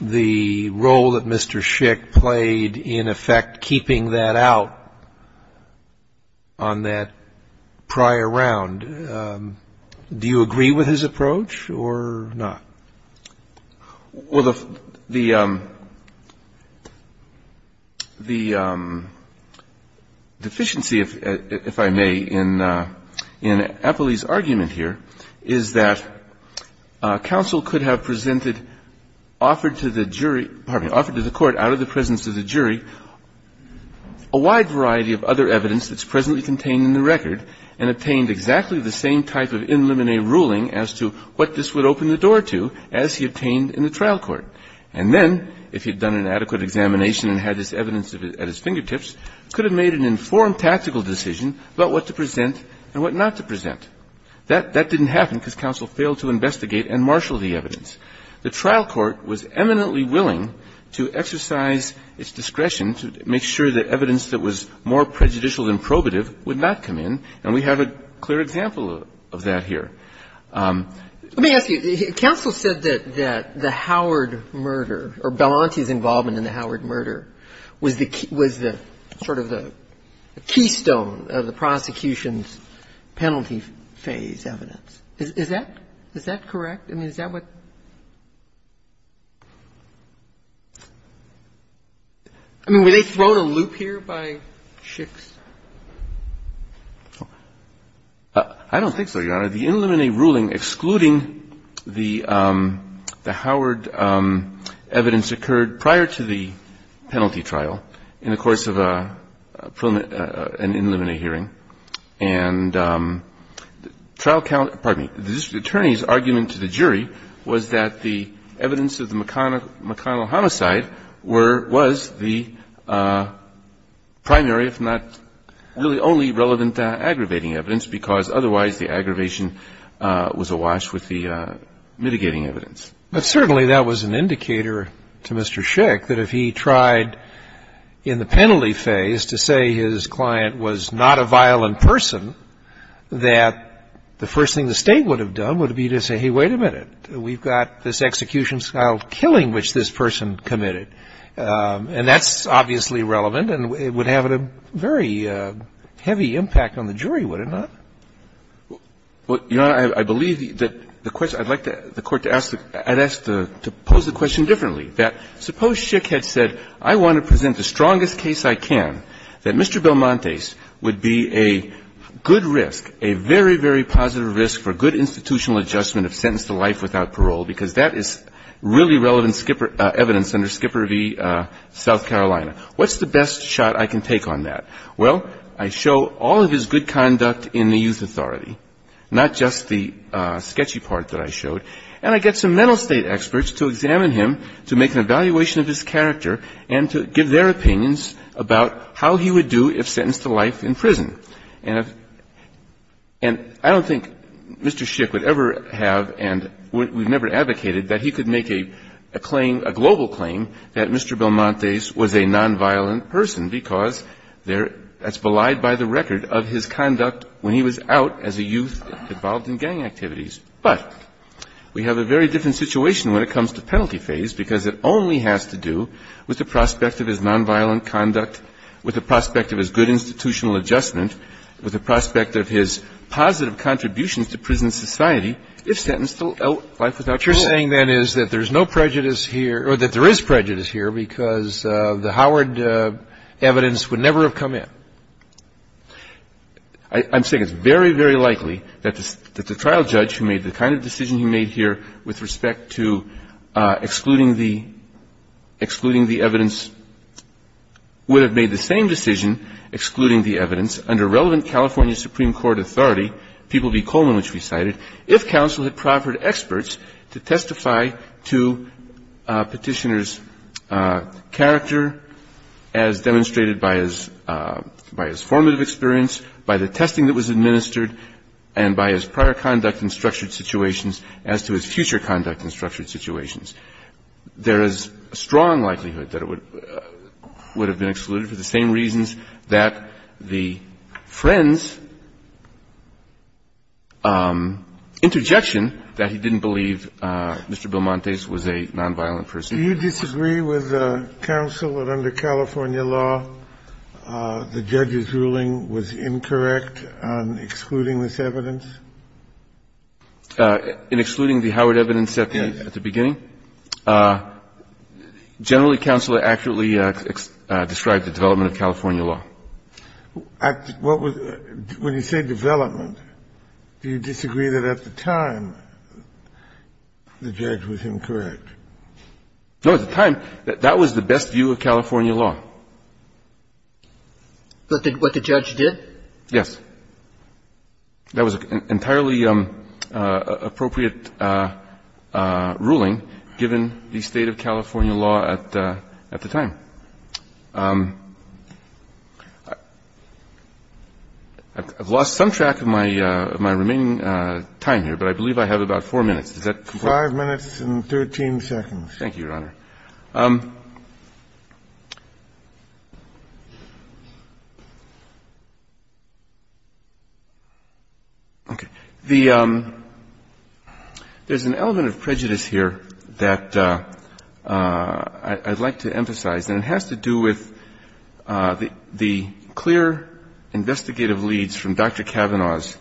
the role that Mr. Schick played in effect keeping that out on that prior round? Do you agree with his approach or not? Well, the – the deficiency, if I may, in Appley's argument here is that counsel could have presented, offered to the jury – pardon me – offered to the court out of the presence of the jury a wide variety of other evidence that's presently contained in the record and obtained exactly the same type of in limine ruling as to what this would open the door to as he obtained in the trial court. And then, if he'd done an adequate examination and had this evidence at his fingertips, could have made an informed tactical decision about what to present and what not to present. That – that didn't happen because counsel failed to investigate and marshal the evidence. The trial court was eminently willing to exercise its discretion to make sure that evidence that was more prejudicial than probative would not come in, and we have a clear example of that here. Let me ask you, counsel said that the Howard murder or Belanti's involvement in the Howard murder was the – was the sort of the keystone of the prosecution's penalty phase evidence. Is that – is that correct? I mean, is that what – I mean, were they thrown a loop here by Schick's? I don't think so, Your Honor. The in limine ruling excluding the Howard evidence occurred prior to the penalty trial in the course of a preliminary – an in limine hearing. And trial count – pardon me. The district attorney's argument to the jury was that the evidence of the McConnell homicide were – was the primary, if not really only relevant, aggravating evidence because otherwise the aggravation was awash with the mitigating evidence. But certainly that was an indicator to Mr. Schick that if he tried in the penalty phase to say his client was not a violent person, that the first thing the State would have done would be to say, hey, wait a minute, we've got this execution of a crime-style killing which this person committed, and that's obviously relevant and would have a very heavy impact on the jury, would it not? Well, Your Honor, I believe that the question – I'd like the Court to ask the – I'd ask to pose the question differently, that suppose Schick had said, I want to present the strongest case I can, that Mr. Belmontes would be a good risk, a very, very positive risk for good institutional adjustment of sentence to life without parole, because that is really relevant evidence under Skipper v. South Carolina. What's the best shot I can take on that? Well, I show all of his good conduct in the youth authority, not just the sketchy part that I showed, and I get some mental state experts to examine him, to make an evaluation of his character, and to give their opinions about how he would do if sentenced to life in prison. And if – and I don't think Mr. Schick would ever have and we've never advocated that he could make a claim, a global claim, that Mr. Belmontes was a nonviolent person, because there – that's belied by the record of his conduct when he was out as a youth involved in gang activities. But we have a very different situation when it comes to penalty phase, because it only has to do with the prospect of his nonviolent conduct, with the prospect of his good institutional adjustment, with the prospect of his positive contributions to prison society, if sentenced to life without parole. What you're saying, then, is that there's no prejudice here – or that there is prejudice here because the Howard evidence would never have come in. I'm saying it's very, very likely that the trial judge who made the kind of decision he made here with respect to excluding the – excluding the evidence would have made the same decision, excluding the evidence, under relevant California Supreme Court authority, People v. Coleman, which we cited, if counsel had proffered experts to testify to Petitioner's character as demonstrated by his – by his formative experience, by the testing that was administered, and by his prior conduct in structured situations as to his future conduct in structured situations. There is a strong likelihood that it would – would have been excluded for the same reasons that the friend's interjection that he didn't believe Mr. Belmontes was a nonviolent person. Do you disagree with counsel that under California law, the judge's ruling was incorrect on excluding this evidence? In excluding the Howard evidence at the beginning? Generally, counsel accurately described the development of California law. I – what was – when you say development, do you disagree that at the time the judge was incorrect? No, at the time, that was the best view of California law. But what the judge did? Yes. That was entirely appropriate ruling given the state of California law at the time. I've lost some track of my remaining time here, but I believe I have about 4 minutes. Does that comply? Five minutes and 13 seconds. Thank you, Your Honor. Okay. The – there's an element of prejudice here that I'd like to emphasize, and it has to do with the clear investigative leads from Dr. Kavanaugh's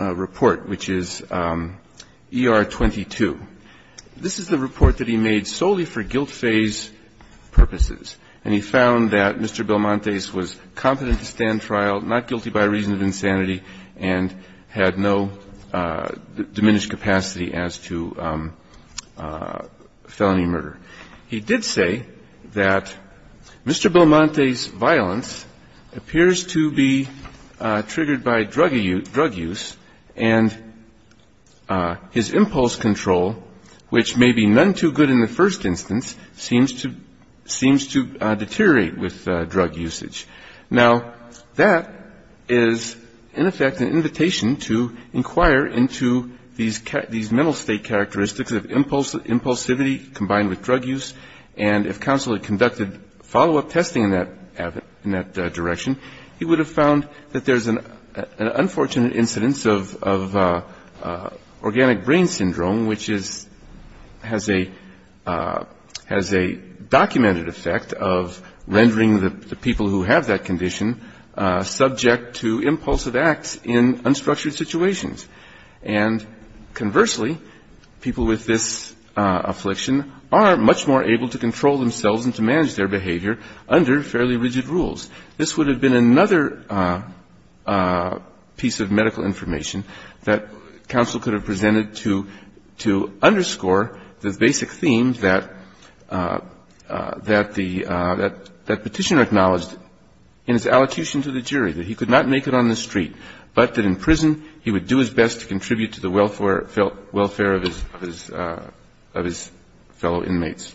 report, which is ER-22. In his report, he made solely for guilt phase purposes, and he found that Mr. Belmonte's was competent to stand trial, not guilty by reason of insanity, and had no diminished capacity as to felony murder. He did say that Mr. Belmonte's violence appears to be triggered by drug use and his impulse control, which may be none too good in the first instance, seems to deteriorate with drug usage. Now, that is, in effect, an invitation to inquire into these mental state characteristics of impulsivity combined with drug use, and if counsel had conducted follow-up testing in that direction, he would have found that there's an unfortunate incidence of organic brain syndrome, which is – has a – has a documented effect of rendering the people who have that condition subject to impulsive acts in unstructured situations. And conversely, people with this affliction are much more able to control themselves and to manage their behavior under fairly rigid rules. This would have been another piece of medical information that counsel could have presented to underscore the basic theme that the – that Petitioner acknowledged in his allocution to the jury, that he could not make it on the street, but that in prison he would do his best to contribute to the welfare of his fellow inmates.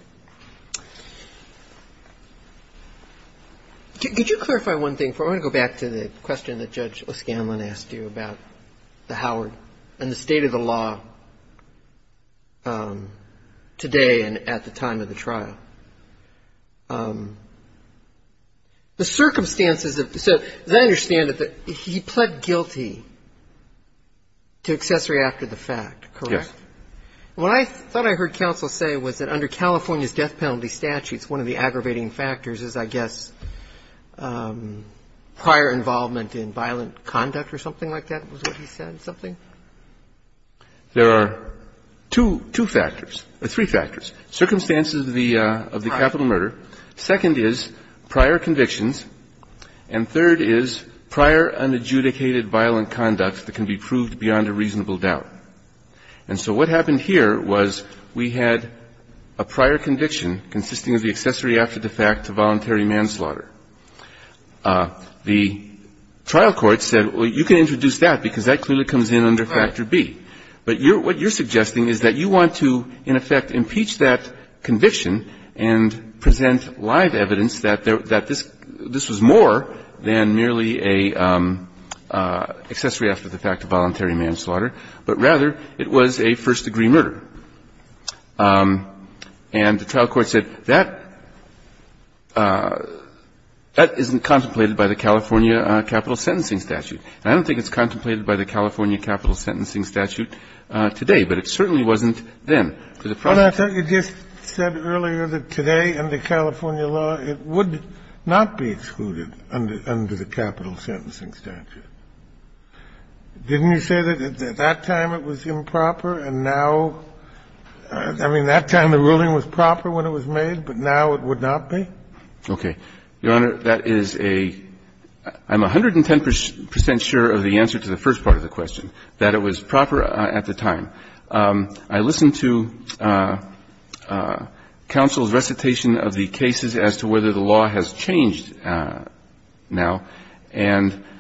Could you clarify one thing for – I want to go back to the question that Judge O'Scanlan asked you about the Howard and the state of the law today and at the time of the trial. The circumstances of – so as I understand it, he pled guilty to accessory after the fact, correct? Yes. And what I thought I heard counsel say was that under California's death penalty statutes, one of the aggravating factors is, I guess, prior involvement in violent conduct or something like that, was what he said, something? There are two – two factors – three factors, circumstances of the – of the capital murder, second is prior convictions, and third is prior unadjudicated violent conduct that can be proved beyond a reasonable doubt. And so what happened here was we had a prior conviction consisting of the accessory after the fact to voluntary manslaughter. The trial court said, well, you can introduce that because that clearly comes in under Factor B. But you're – what you're suggesting is that you want to, in effect, impeach that conviction and present live evidence that this was more than merely a accessory after the fact of voluntary manslaughter, but rather it was a first degree murder. And the trial court said, that – that isn't contemplated by the California capital sentencing statute. And I don't think it's contemplated by the California capital sentencing statute today, but it certainly wasn't then. To the point that you just said earlier that today, under California law, it would not be excluded under the capital sentencing statute. Didn't you say that at that time it was improper and now – I mean, that time the ruling was proper when it was made, but now it would not be? Okay. Your Honor, that is a – I'm 110 percent sure of the answer to the first part of the question, that it was proper at the time. I listened to counsel's recitation of the cases as to whether the law has changed now, and –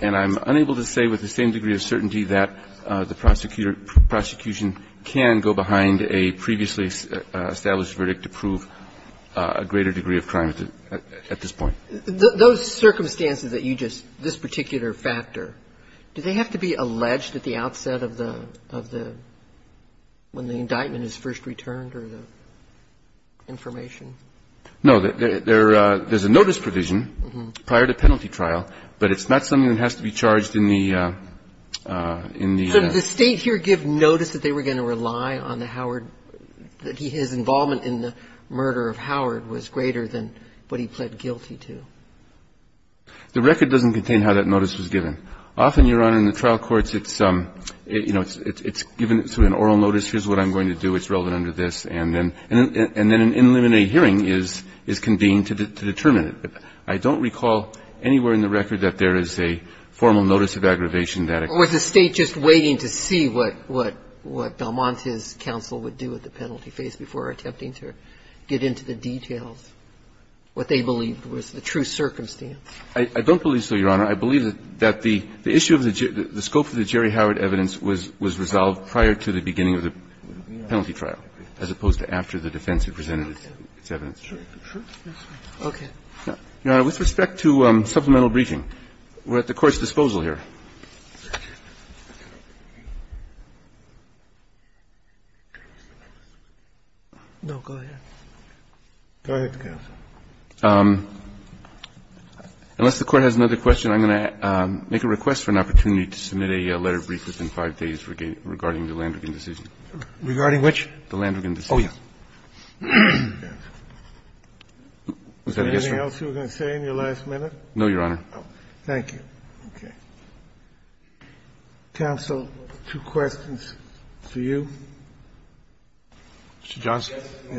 and I'm unable to say with the same degree of certainty that the prosecutor – prosecution can go behind a previously established verdict to prove a greater degree of crime at this point. Those circumstances that you just – this particular factor, do they have to be alleged at the outset of the – of the – when the indictment is first returned or the information? No. There's a notice provision prior to penalty trial, but it's not something that has to be charged in the – in the – So did the State here give notice that they were going to rely on the Howard – that his involvement in the murder of Howard was greater than what he pled guilty to? The record doesn't contain how that notice was given. Often, Your Honor, in the trial courts, it's – you know, it's given through an oral notice, here's what I'm going to do, it's relevant under this, and then an in limine hearing is – is convened to determine it. But I don't recall anywhere in the record that there is a formal notice of aggravation that a – Or was the State just waiting to see what – what – what Del Monte's counsel would do at the penalty phase before attempting to get into the details, what they believed was the true circumstance? I don't believe so, Your Honor. I believe that the – the issue of the – the scope of the Jerry Howard evidence was – was resolved prior to the beginning of the penalty trial, as opposed to after the defense had presented its – its evidence. Okay. Your Honor, with respect to supplemental briefing, we're at the Court's disposal here. No, go ahead. Go ahead, counsel. Unless the Court has another question, I'm going to make a request for an opportunity to submit a letter of brief within 5 days regarding the Landrigan decision. Regarding which? The Landrigan decision. Oh, yeah. Was there anything else you were going to say in your last minute? No, Your Honor. Thank you. Okay. Counsel, two questions for you. Mr. Johnson. Yeah.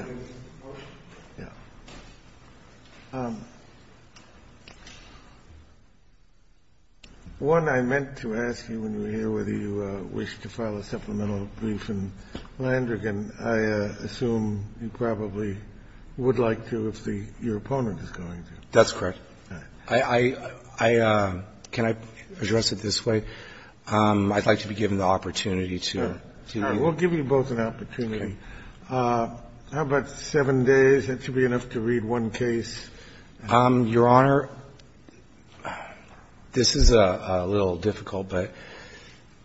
One, I meant to ask you when you were here whether you wished to file a supplemental brief in Landrigan. I assume you probably would like to if the – your opponent is going to. That's correct. I – I – I – can I address it this way? I'd like to be given the opportunity to read. We'll give you both an opportunity. Okay. How about 7 days? That should be enough to read one case. Your Honor, this is a little difficult, but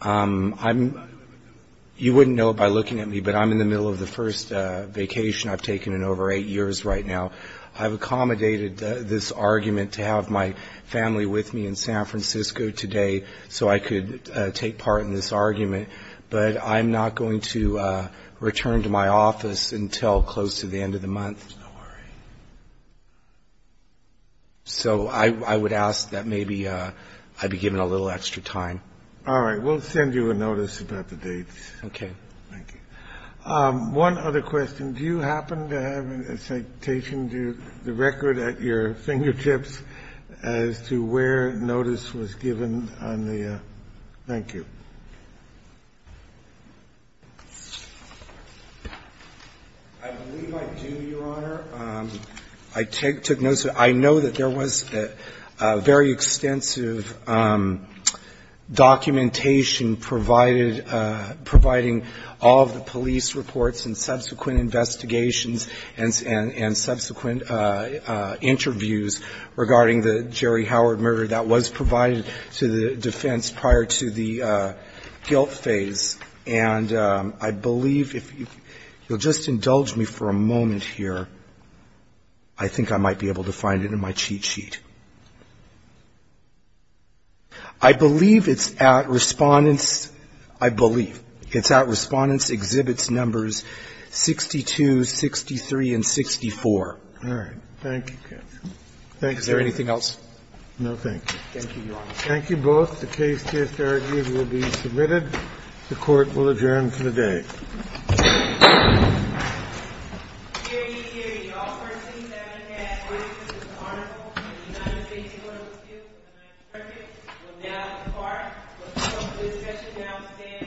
I'm – You wouldn't know it by looking at me, but I'm in the middle of the first vacation I've taken in over 8 years right now. I've accommodated this argument to have my family with me in San Francisco today so I could take part in this argument, but I'm not going to return to my office until close to the end of the month. Don't worry. So I would ask that maybe I be given a little extra time. All right. We'll send you a notice about the dates. Okay. Thank you. One other question. Do you happen to have a citation to the record at your fingertips as to where notice was given on the – thank you. I believe I do, Your Honor. I took notice. I know that there was very extensive documentation provided – providing all of the police reports and subsequent investigations and subsequent interviews regarding the Jerry Howard murder that was provided to the defense prior to the guilt phase. And I believe if you'll just indulge me for a moment here, I think I might be able to find it in my cheat sheet. I believe it's at Respondent's – I believe it's at Respondent's Exhibit Numbers 62, 63, and 64. All right. Thank you, counsel. Is there anything else? No, thank you. Thank you, Your Honor. Thank you both. The case just argued will be submitted. The court will adjourn for the day. Hear, ye, hear. You all first things that I would ask for is that the Honorable Committee of the United States Court of Appeals, if that's perfect, will now depart. The public discussion now stands adjourned. Thank you.